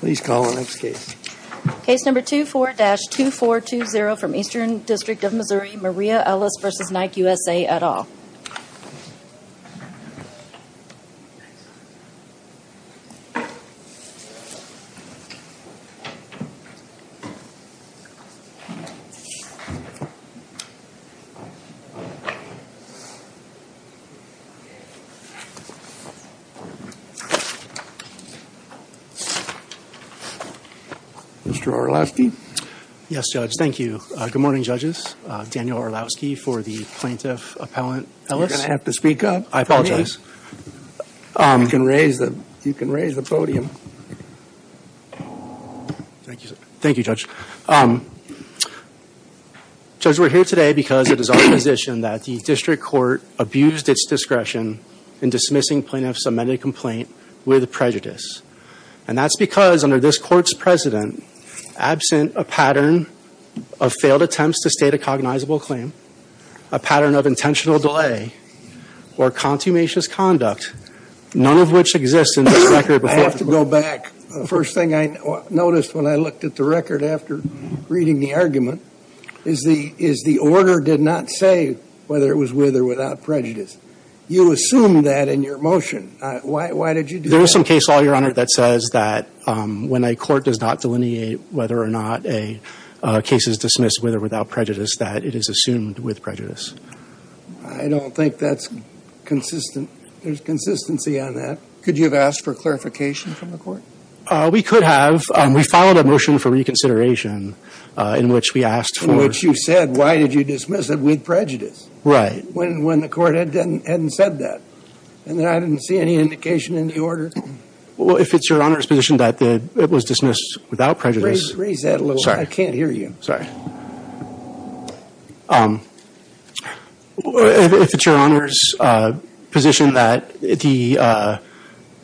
Please call the next case. Mr. Orlowski, yes, Judge. Thank you. Good morning, Judges. Daniel Orlowski for the Plaintiff Appellant Ellis. Are you going to have to speak up? I apologize. Please. You can raise the podium. Thank you, Judge. Judge, we're here today because it is our position that the District Court abused its discretion in dismissing Plaintiff's amended complaint with prejudice. And that's because under this Court's precedent, absent a pattern of failed attempts to state a cognizable claim, a pattern of intentional delay, or consummatious conduct, none of which exists in this record. I have to go back. The first thing I noticed when I looked at the record after reading the argument is the order did not say whether it was with or without prejudice. You assumed that in your motion. Why did you do that? There is some case law, Your Honor, that says that when a court does not delineate whether or not a case is dismissed with or without prejudice, that it is assumed with prejudice. I don't think that's consistent. There's consistency on that. Could you have asked for clarification from the Court? We could have. We filed a motion for reconsideration in which we asked for In which you said, why did you dismiss it with prejudice? Right. When the Court hadn't said that. And I didn't see any indication in the order. If it's Your Honor's position that it was dismissed without prejudice Raise that a little. I can't hear you. Sorry. If it's Your Honor's position that the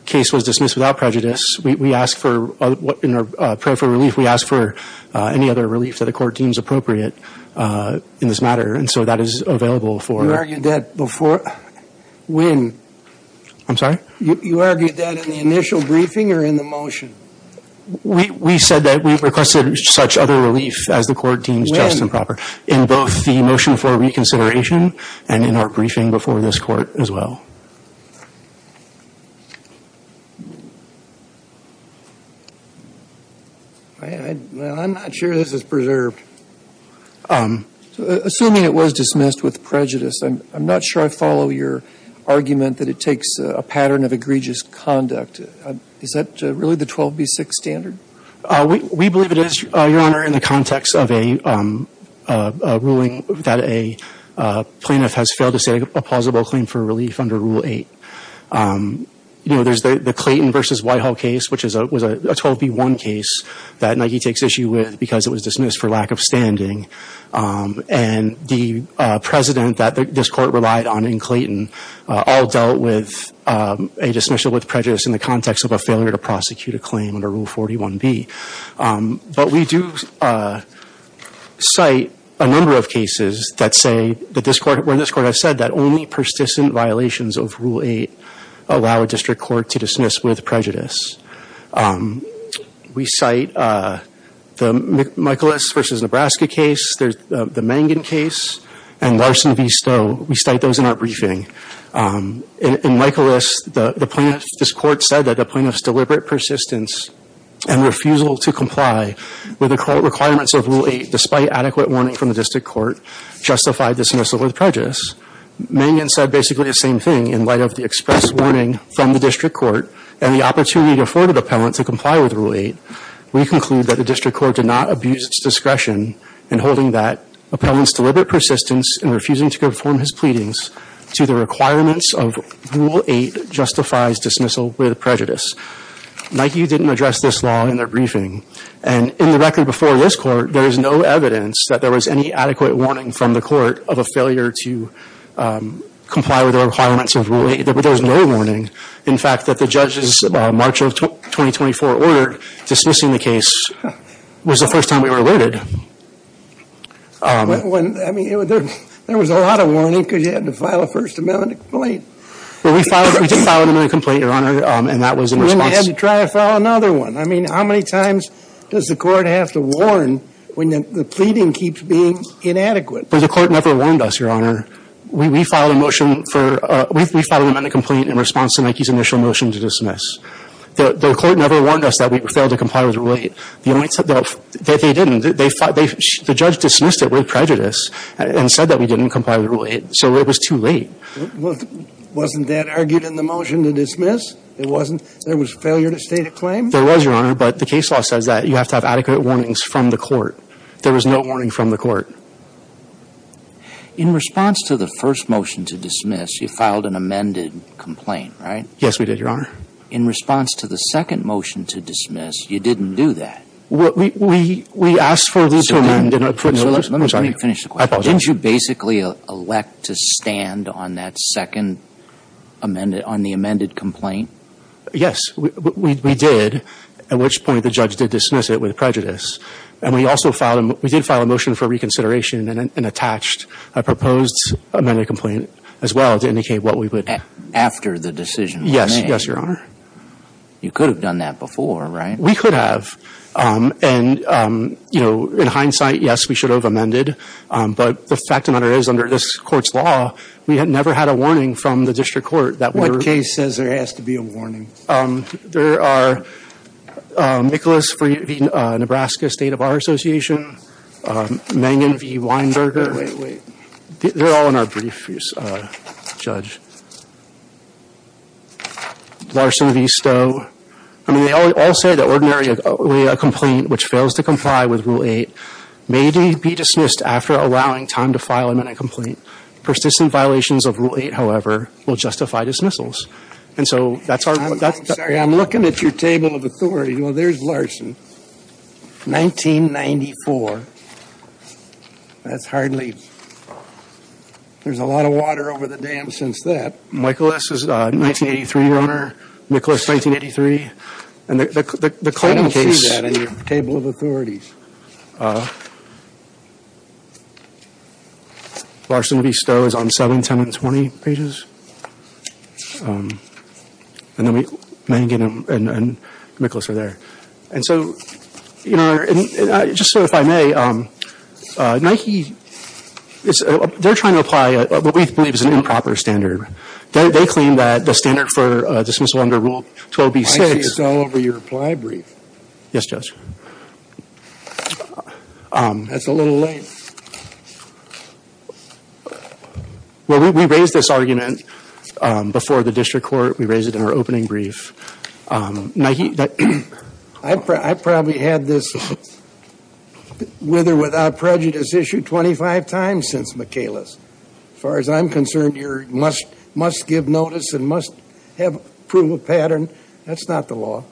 case was dismissed without prejudice, we asked for, in our prayer for relief, we asked for any other relief that the Court deems appropriate in this matter. And so that is available for You argued that before. When? I'm sorry? You argued that in the initial briefing or in the motion? We said that we requested such other relief as the Court deems just and proper. In both the motion for reconsideration and in our briefing before this Court as well. I'm not sure this is preserved. Assuming it was dismissed with prejudice, I'm not sure I follow your argument that it takes a pattern of egregious conduct. Is that really the 12B6 standard? We believe it is, Your Honor, in the context of a ruling that a plaintiff has failed to say a plausible claim for relief under Rule 8. There's the Clayton v. Whitehall case, which was a 12B1 case that Nike takes issue with because it was dismissed for lack of standing. And the president that this Court relied on in Clayton all dealt with a dismissal with prejudice in the context of a failure to prosecute a claim under Rule 41B. But we do cite a number of cases where this Court has said that only persistent violations of Rule 8 allow a district court to dismiss with prejudice. We cite the Michaelis v. Nebraska case, the Mangan case, and Larson v. Stowe. We cite those in our briefing. In Michaelis, this Court said that a plaintiff's deliberate persistence and refusal to comply with the requirements of Rule 8, despite adequate warning from the district court, justified dismissal with prejudice. Mangan said basically the same thing in light of the express warning from the district court and the opportunity afforded appellant to comply with Rule 8. We conclude that the district court did not abuse its discretion in holding that appellant's deliberate persistence in refusing to conform his pleadings to the requirements of Rule 8 justifies dismissal with prejudice. Nike didn't address this law in their briefing. And in the record before this Court, there is no evidence that there was any adequate warning from the court of a failure to comply with the requirements of Rule 8. There was no warning. In fact, that the judge's March of 2024 order dismissing the case was the first time we were alerted. I mean, there was a lot of warning because you had to file a First Amendment complaint. We did file an amendment complaint, Your Honor, and that was in response. Then you had to try to file another one. I mean, how many times does the court have to warn when the pleading keeps being inadequate? Well, the court never warned us, Your Honor. We filed a motion for – we filed an amendment complaint in response to Nike's initial motion to dismiss. The court never warned us that we failed to comply with Rule 8. The only – they didn't. The judge dismissed it with prejudice and said that we didn't comply with Rule 8. So it was too late. Wasn't that argued in the motion to dismiss? It wasn't? There was failure to state a claim? There was, Your Honor, but the case law says that you have to have adequate warnings from the court. There was no warning from the court. In response to the first motion to dismiss, you filed an amended complaint, right? Yes, we did, Your Honor. In response to the second motion to dismiss, you didn't do that. We asked for the second – Let me finish the question. I apologize. Didn't you basically elect to stand on that second – on the amended complaint? Yes, we did, at which point the judge did dismiss it with prejudice. And we also filed – we did file a motion for reconsideration and attached a proposed amended complaint as well to indicate what we would – After the decision was made? Yes. Yes, Your Honor. You could have done that before, right? We could have. And, you know, in hindsight, yes, we should have amended. But the fact of the matter is, under this court's law, we had never had a warning from the district court that we were – What case says there has to be a warning? There are Nicholas V. Nebraska State Bar Association, Mangan V. Weinberger – Wait, wait. They're all in our brief, Judge. Larson V. Stowe. I mean, they all say that ordinarily a complaint which fails to comply with Rule 8 may be dismissed after allowing time to file an amended complaint. Persistent violations of Rule 8, however, will justify dismissals. And so that's our – I'm looking at your table of authorities. Well, there's Larson. 1994. That's hardly – there's a lot of water over the dam since that. Michael S. is 1983, Your Honor. Nicholas, 1983. And the claim case – I don't see that in your table of authorities. Larson V. Stowe is on 7, 10, and 20 pages. And then we – Mangan and Nicholas are there. And so, Your Honor, just so if I may, Nike is – they're trying to apply what we believe is an improper standard. They claim that the standard for dismissal under Rule 12b-6 – Nike is all over your reply brief. Yes, Judge. That's a little late. Well, we raised this argument before the district court. We raised it in our opening brief. Nike – I probably had this with or without prejudice issued 25 times since Michaelis. As far as I'm concerned, you must give notice and must have proof of pattern. That's not the law.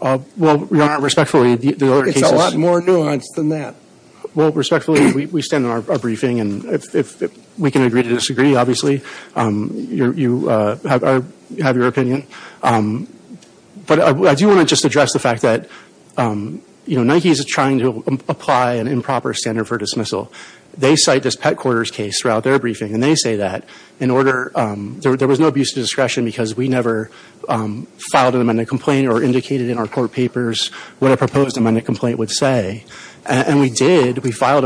Well, Your Honor, respectfully, the other cases – It's a lot more nuanced than that. Well, respectfully, we stand on our briefing. And if we can agree to disagree, obviously, you have your opinion. But I do want to just address the fact that, you know, Nike is trying to apply an improper standard for dismissal. They cite this pet quarters case throughout their briefing, and they say that in order – we filed an amended complaint or indicated in our court papers what a proposed amended complaint would say. And we did. We filed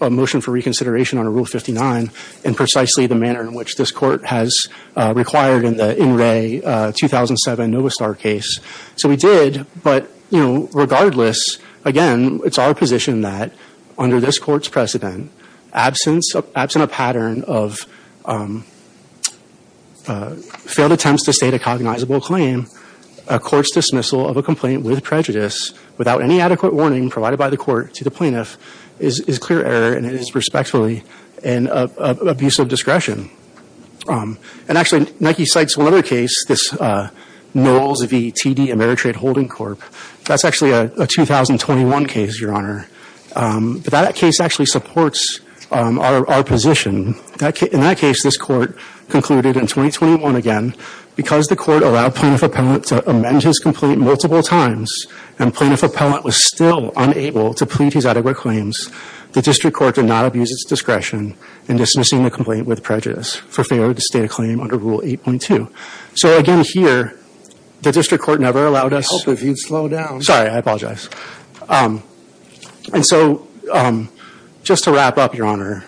a motion for reconsideration under Rule 59 in precisely the manner in which this court has required in the In Re 2007 Novostar case. So we did. But, you know, regardless, again, it's our position that under this court's precedent, absent a pattern of failed attempts to state a cognizable claim, a court's dismissal of a complaint with prejudice without any adequate warning provided by the court to the plaintiff is clear error, and it is respectfully an abuse of discretion. And actually, Nike cites another case, this Knowles v. TD Ameritrade Holding Corp. That's actually a 2021 case, Your Honor. But that case actually supports our position. In that case, this court concluded in 2021 again, because the court allowed plaintiff appellant to amend his complaint multiple times and plaintiff appellant was still unable to plead his adequate claims, the district court did not abuse its discretion in dismissing the complaint with prejudice for failure to state a claim under Rule 8.2. So, again, here, the district court never allowed us – I hope if you'd slow down. Sorry, I apologize. And so, just to wrap up, Your Honor,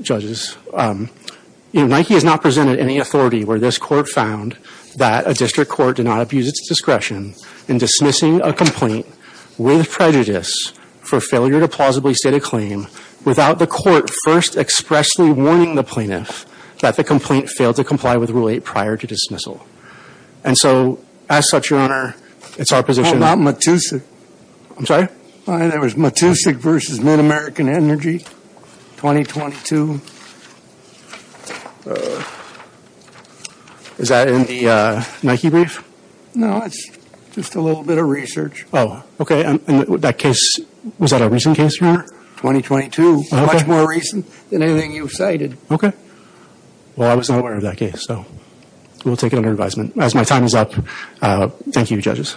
judges, Nike has not presented any authority where this court found that a district court did not abuse its discretion in dismissing a complaint with prejudice for failure to plausibly state a claim without the court first expressly warning the plaintiff that the complaint failed to comply with Rule 8 prior to dismissal. And so, as such, Your Honor, it's our position – Matusik. I'm sorry? It was Matusik v. MidAmerican Energy, 2022. Is that in the Nike brief? No, it's just a little bit of research. Oh, okay. And that case, was that a recent case, Your Honor? 2022. Okay. Much more recent than anything you've cited. Okay. Well, I was not aware of that case, so we'll take it under advisement. As my time is up, thank you, judges.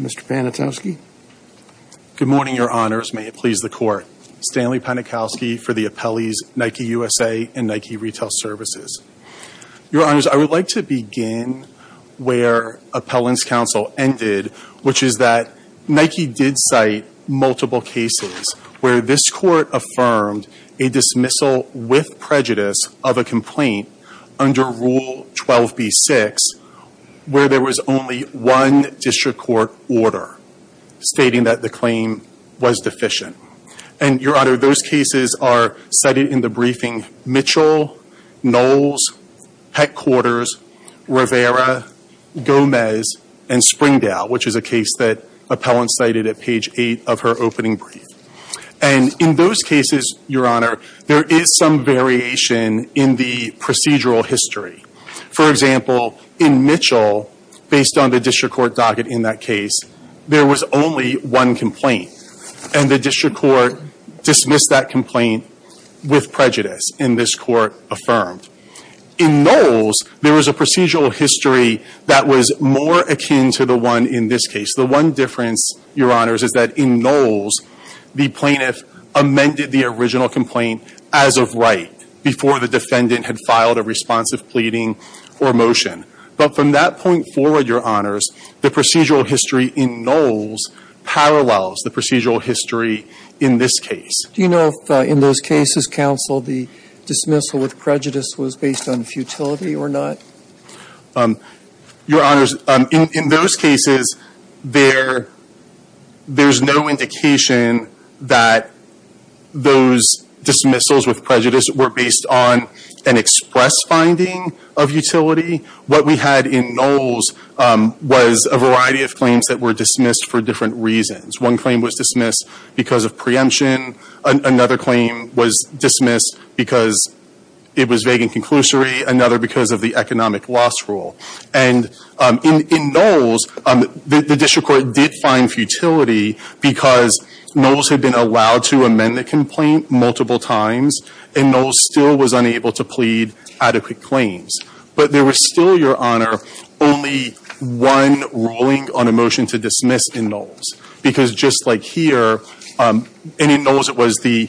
Mr. Panikowski? Good morning, Your Honors. May it please the Court. Stanley Panikowski for the appellees, Nike USA and Nike Retail Services. Your Honors, I would like to begin where appellant's counsel ended, which is that Nike did cite multiple cases where this court affirmed a dismissal with prejudice of a complaint under Rule 12b-6 where there was only one district court order stating that the claim was deficient. And, Your Honor, those cases are cited in the briefing Mitchell, Knowles, Headquarters, Rivera, Gomez, and Springdale, which is a case that appellant cited at page 8 of her opening brief. And in those cases, Your Honor, there is some variation in the procedural history. For example, in Mitchell, based on the district court docket in that case, there was only one complaint. And the district court dismissed that complaint with prejudice in this court affirmed. In Knowles, there was a procedural history that was more akin to the one in this case. The one difference, Your Honors, is that in Knowles, the plaintiff amended the original complaint as of right before the defendant had filed a responsive pleading or motion. But from that point forward, Your Honors, the procedural history in Knowles parallels the procedural history in this case. Do you know if in those cases, counsel, the dismissal with prejudice was based on futility or not? Your Honors, in those cases, there's no indication that those dismissals with prejudice were based on an express finding of utility. What we had in Knowles was a variety of claims that were dismissed for different reasons. One claim was dismissed because of preemption. Another claim was dismissed because it was vague and conclusory. Another because of the economic loss rule. And in Knowles, the district court did find futility because Knowles had been allowed to amend the complaint multiple times and Knowles still was unable to plead adequate claims. But there was still, Your Honor, only one ruling on a motion to dismiss in Knowles. Because just like here, in Knowles, it was the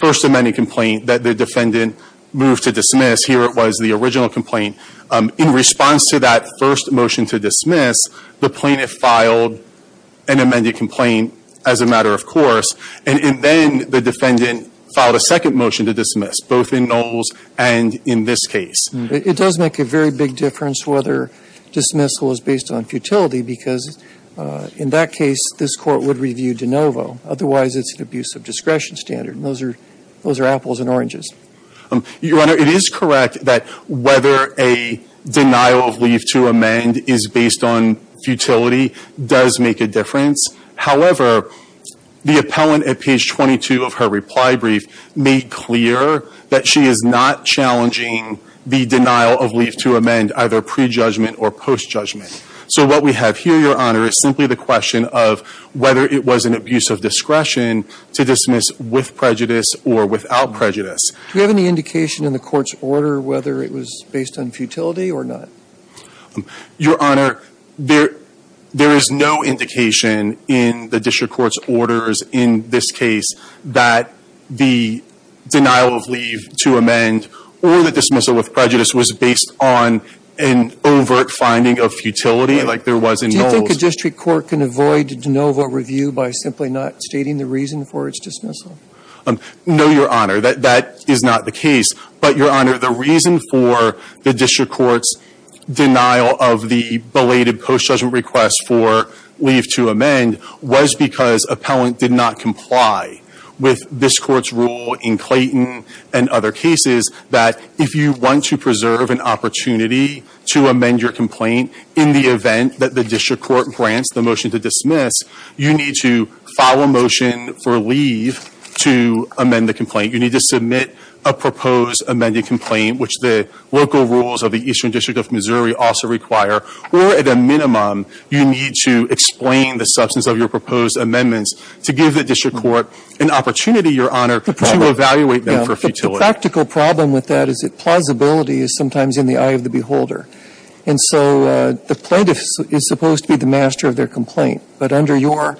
first amended complaint that the defendant moved to dismiss. Here it was the original complaint. In response to that first motion to dismiss, the plaintiff filed an amended complaint as a matter of course. And then the defendant filed a second motion to dismiss, both in Knowles and in this case. It does make a very big difference whether dismissal is based on futility because in that case, this court would review de novo. Otherwise, it's an abuse of discretion standard. Those are apples and oranges. Your Honor, it is correct that whether a denial of leave to amend is based on futility does make a difference. However, the appellant at page 22 of her reply brief made clear that she is not challenging the denial of leave to amend either pre-judgment or post-judgment. So what we have here, Your Honor, is simply the question of whether it was an abuse of discretion to dismiss with prejudice or without prejudice. Do we have any indication in the court's order whether it was based on futility or not? Your Honor, there is no indication in the district court's orders in this case that the denial of leave to amend or the dismissal with prejudice was based on an overt finding of futility like there was in Knowles. Do you think a district court can avoid de novo review by simply not stating the reason for its dismissal? No, Your Honor. That is not the case. But, Your Honor, the reason for the district court's denial of the belated post-judgment request for leave to amend was because appellant did not comply with this court's rule in Clayton and other cases that if you want to preserve an opportunity to amend your complaint in the event that the district court grants the motion to dismiss, you need to file a motion for leave to amend the complaint. You need to submit a proposed amended complaint, which the local rules of the Eastern District of Missouri also require, or at a minimum you need to explain the substance of your proposed amendments to give the district court an opportunity, Your Honor, to evaluate them for futility. The practical problem with that is that plausibility is sometimes in the eye of the beholder. And so the plaintiff is supposed to be the master of their complaint. But under your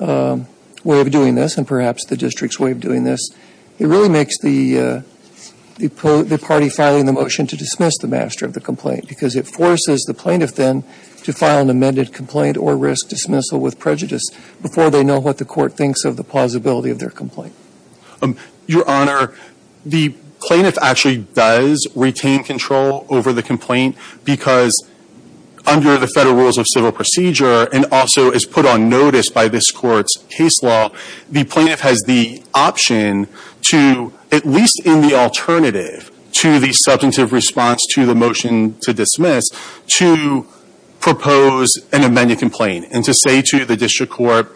way of doing this and perhaps the district's way of doing this, it really makes the party filing the motion to dismiss the master of the complaint because it forces the plaintiff then to file an amended complaint or risk dismissal with prejudice before they know what the court thinks of the plausibility of their complaint. Your Honor, the plaintiff actually does retain control over the complaint because under the federal rules of civil procedure and also is put on notice by this court's case law, the plaintiff has the option to, at least in the alternative to the substantive response to the motion to dismiss, to propose an amended complaint and to say to the district court,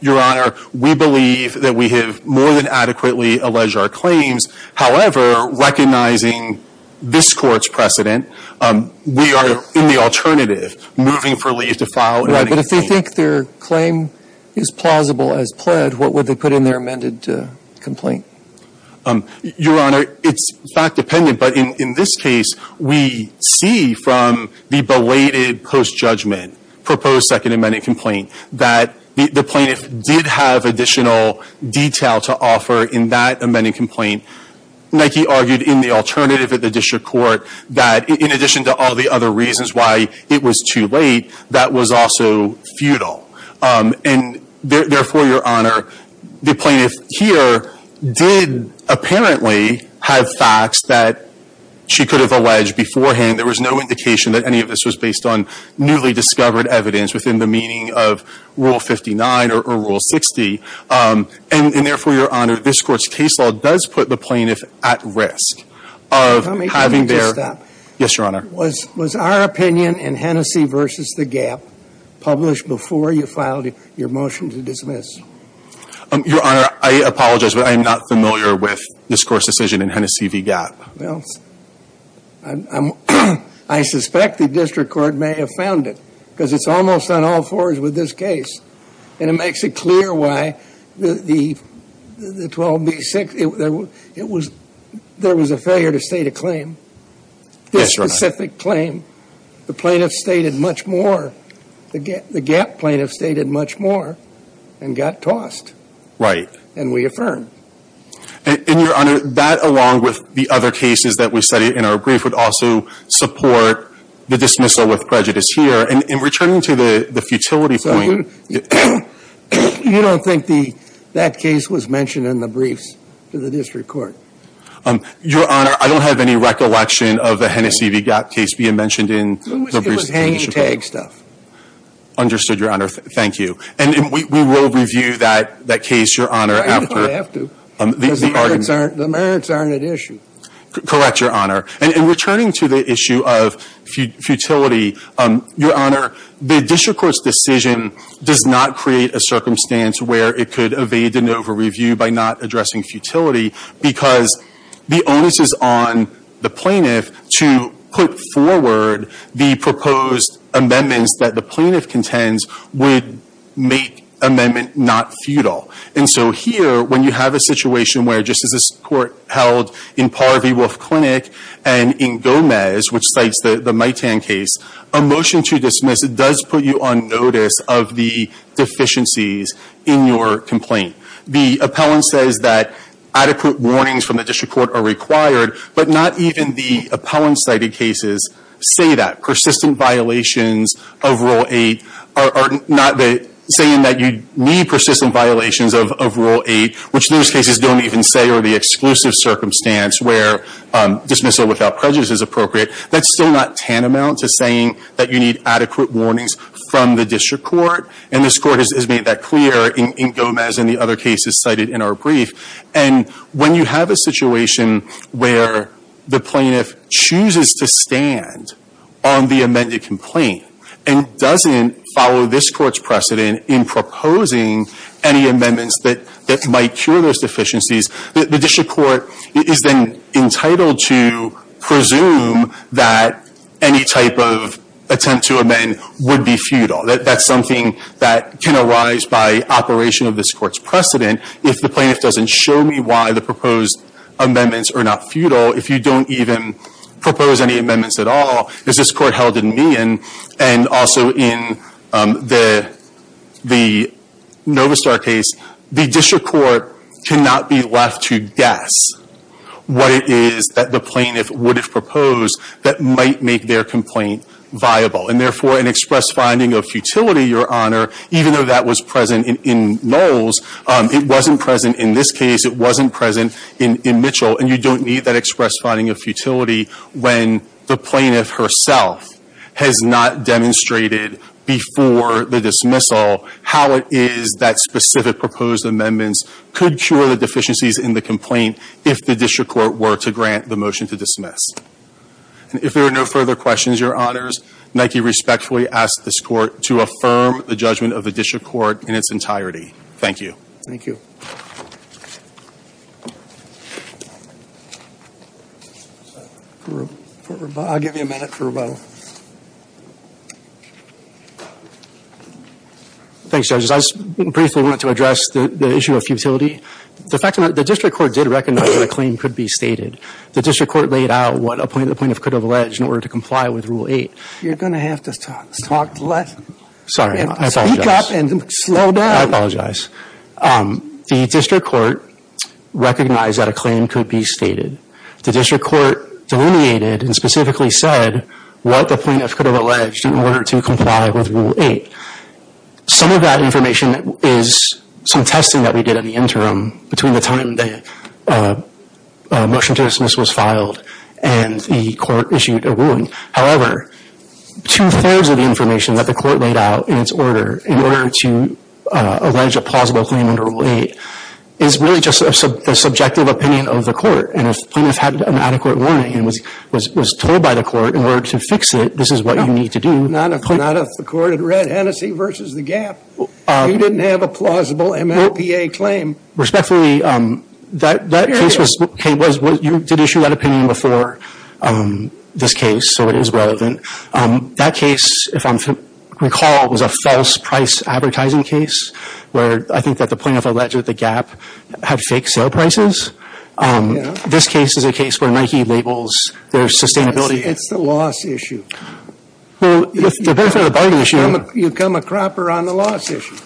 Your Honor, we believe that we have more than adequately alleged our claims. However, recognizing this court's precedent, we are in the alternative, moving for leave to file an amended complaint. Right, but if they think their claim is plausible as pled, what would they put in their amended complaint? Your Honor, it's fact-dependent, but in this case, we see from the belated post-judgment proposed second amended complaint that the plaintiff did have additional detail to offer in that amended complaint. Nike argued in the alternative at the district court that in addition to all the other reasons why it was too late, that was also futile. And therefore, Your Honor, the plaintiff here did apparently have facts that she could have alleged beforehand. There was no indication that any of this was based on newly discovered evidence within the meaning of Rule 59 or Rule 60. And therefore, Your Honor, this court's case law does put the plaintiff at risk of having their Let me just stop. Yes, Your Honor. Was our opinion in Hennessy v. Gap published before you filed your motion to dismiss? Your Honor, I apologize, but I am not familiar with this court's decision in Hennessy v. Gap. Well, I suspect the district court may have found it, because it's almost on all fours with this case. And it makes it clear why the 12B6, there was a failure to state a claim. This specific claim, the plaintiff stated much more. The Gap plaintiff stated much more and got tossed. And we affirmed. And, Your Honor, that along with the other cases that we studied in our brief would also support the dismissal with prejudice here. And in returning to the futility point So you don't think that case was mentioned in the briefs to the district court? Your Honor, I don't have any recollection of the Hennessy v. Gap case being mentioned in the briefs. It was hanging tag stuff. Understood, Your Honor. Thank you. And we will review that case, Your Honor, after. If I have to. Because the merits aren't at issue. Correct, Your Honor. And in returning to the issue of futility, Your Honor, the district court's decision does not create a circumstance where it could evade an over-review by not addressing futility because the onus is on the plaintiff to put forward the proposed amendments that the plaintiff contends would make amendment not futile. And so here, when you have a situation where, just as this court held in Parr v. Wolf Clinic and in Gomez, which cites the Mitan case, a motion to dismiss does put you on notice of the deficiencies in your complaint. The appellant says that adequate warnings from the district court are required, but not even the appellant-cited cases say that. Persistent violations of Rule 8 are not saying that you need persistent violations of Rule 8, which those cases don't even say are the exclusive circumstance where dismissal without prejudice is appropriate. That's still not tantamount to saying that you need adequate warnings from the district court. And this court has made that clear in Gomez and the other cases cited in our brief. And when you have a situation where the plaintiff chooses to stand on the amended complaint and doesn't follow this court's precedent in proposing any amendments that might cure those deficiencies, the district court is then entitled to presume that any type of attempt to amend would be futile. That's something that can arise by operation of this court's precedent. If the plaintiff doesn't show me why the proposed amendments are not futile, if you don't even propose any amendments at all, as this court held in Meehan and also in the Novistar case, the district court cannot be left to guess what it is that the plaintiff would have proposed that might make their complaint viable. And therefore, an express finding of futility, Your Honor, even though that was present in Knowles, it wasn't present in this case. It wasn't present in Mitchell. And you don't need that express finding of futility when the plaintiff herself has not demonstrated before the dismissal how it is that specific proposed amendments could cure the deficiencies in the complaint if the district court were to grant the motion to dismiss. And if there are no further questions, Your Honors, Nike respectfully asks this court to affirm the judgment of the district court in its entirety. Thank you. Thank you. I'll give you a minute for rebuttal. Thanks, judges. I just briefly wanted to address the issue of futility. The fact of the matter, the district court did recognize that a claim could be stated. The district court laid out what the plaintiff could have alleged in order to comply with Rule 8. You're going to have to talk less. Sorry, I apologize. Speak up and slow down. I apologize. The district court recognized that a claim could be stated. The district court delineated and specifically said what the plaintiff could have alleged in order to comply with Rule 8. Some of that information is some testing that we did in the interim between the time the motion to dismiss was filed and the court issued a ruling. However, two-thirds of the information that the court laid out in its order in order to allege a plausible claim under Rule 8 is really just the subjective opinion of the court. And if the plaintiff had an adequate warning and was told by the court in order to fix it, this is what you need to do. Not if the court had read Hennessy v. The Gap. You didn't have a plausible MLPA claim. Respectfully, you did issue that opinion before this case, so it is relevant. That case, if I recall, was a false price advertising case where I think that the plaintiff alleged that The Gap had fake sale prices. This case is a case where Nike labels their sustainability. It's the loss issue. With the benefit of the bargain issue. You become a cropper on the loss issue.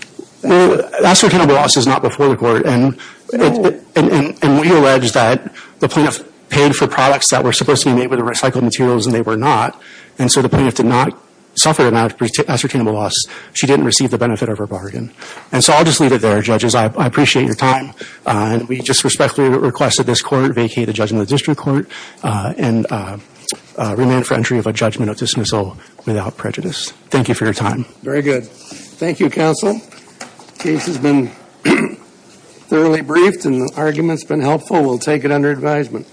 Ascertainable loss is not before the court. And we allege that the plaintiff paid for products that were supposed to be made with recycled materials and they were not. And so the plaintiff did not suffer an ascertainable loss. She didn't receive the benefit of her bargain. And so I'll just leave it there, judges. I appreciate your time. We just respectfully request that this court vacate the judgment of the district court and remand it for entry of a judgment of dismissal without prejudice. Thank you for your time. Very good. Thank you, counsel. The case has been thoroughly briefed and the argument's been helpful. We'll take it under advisement.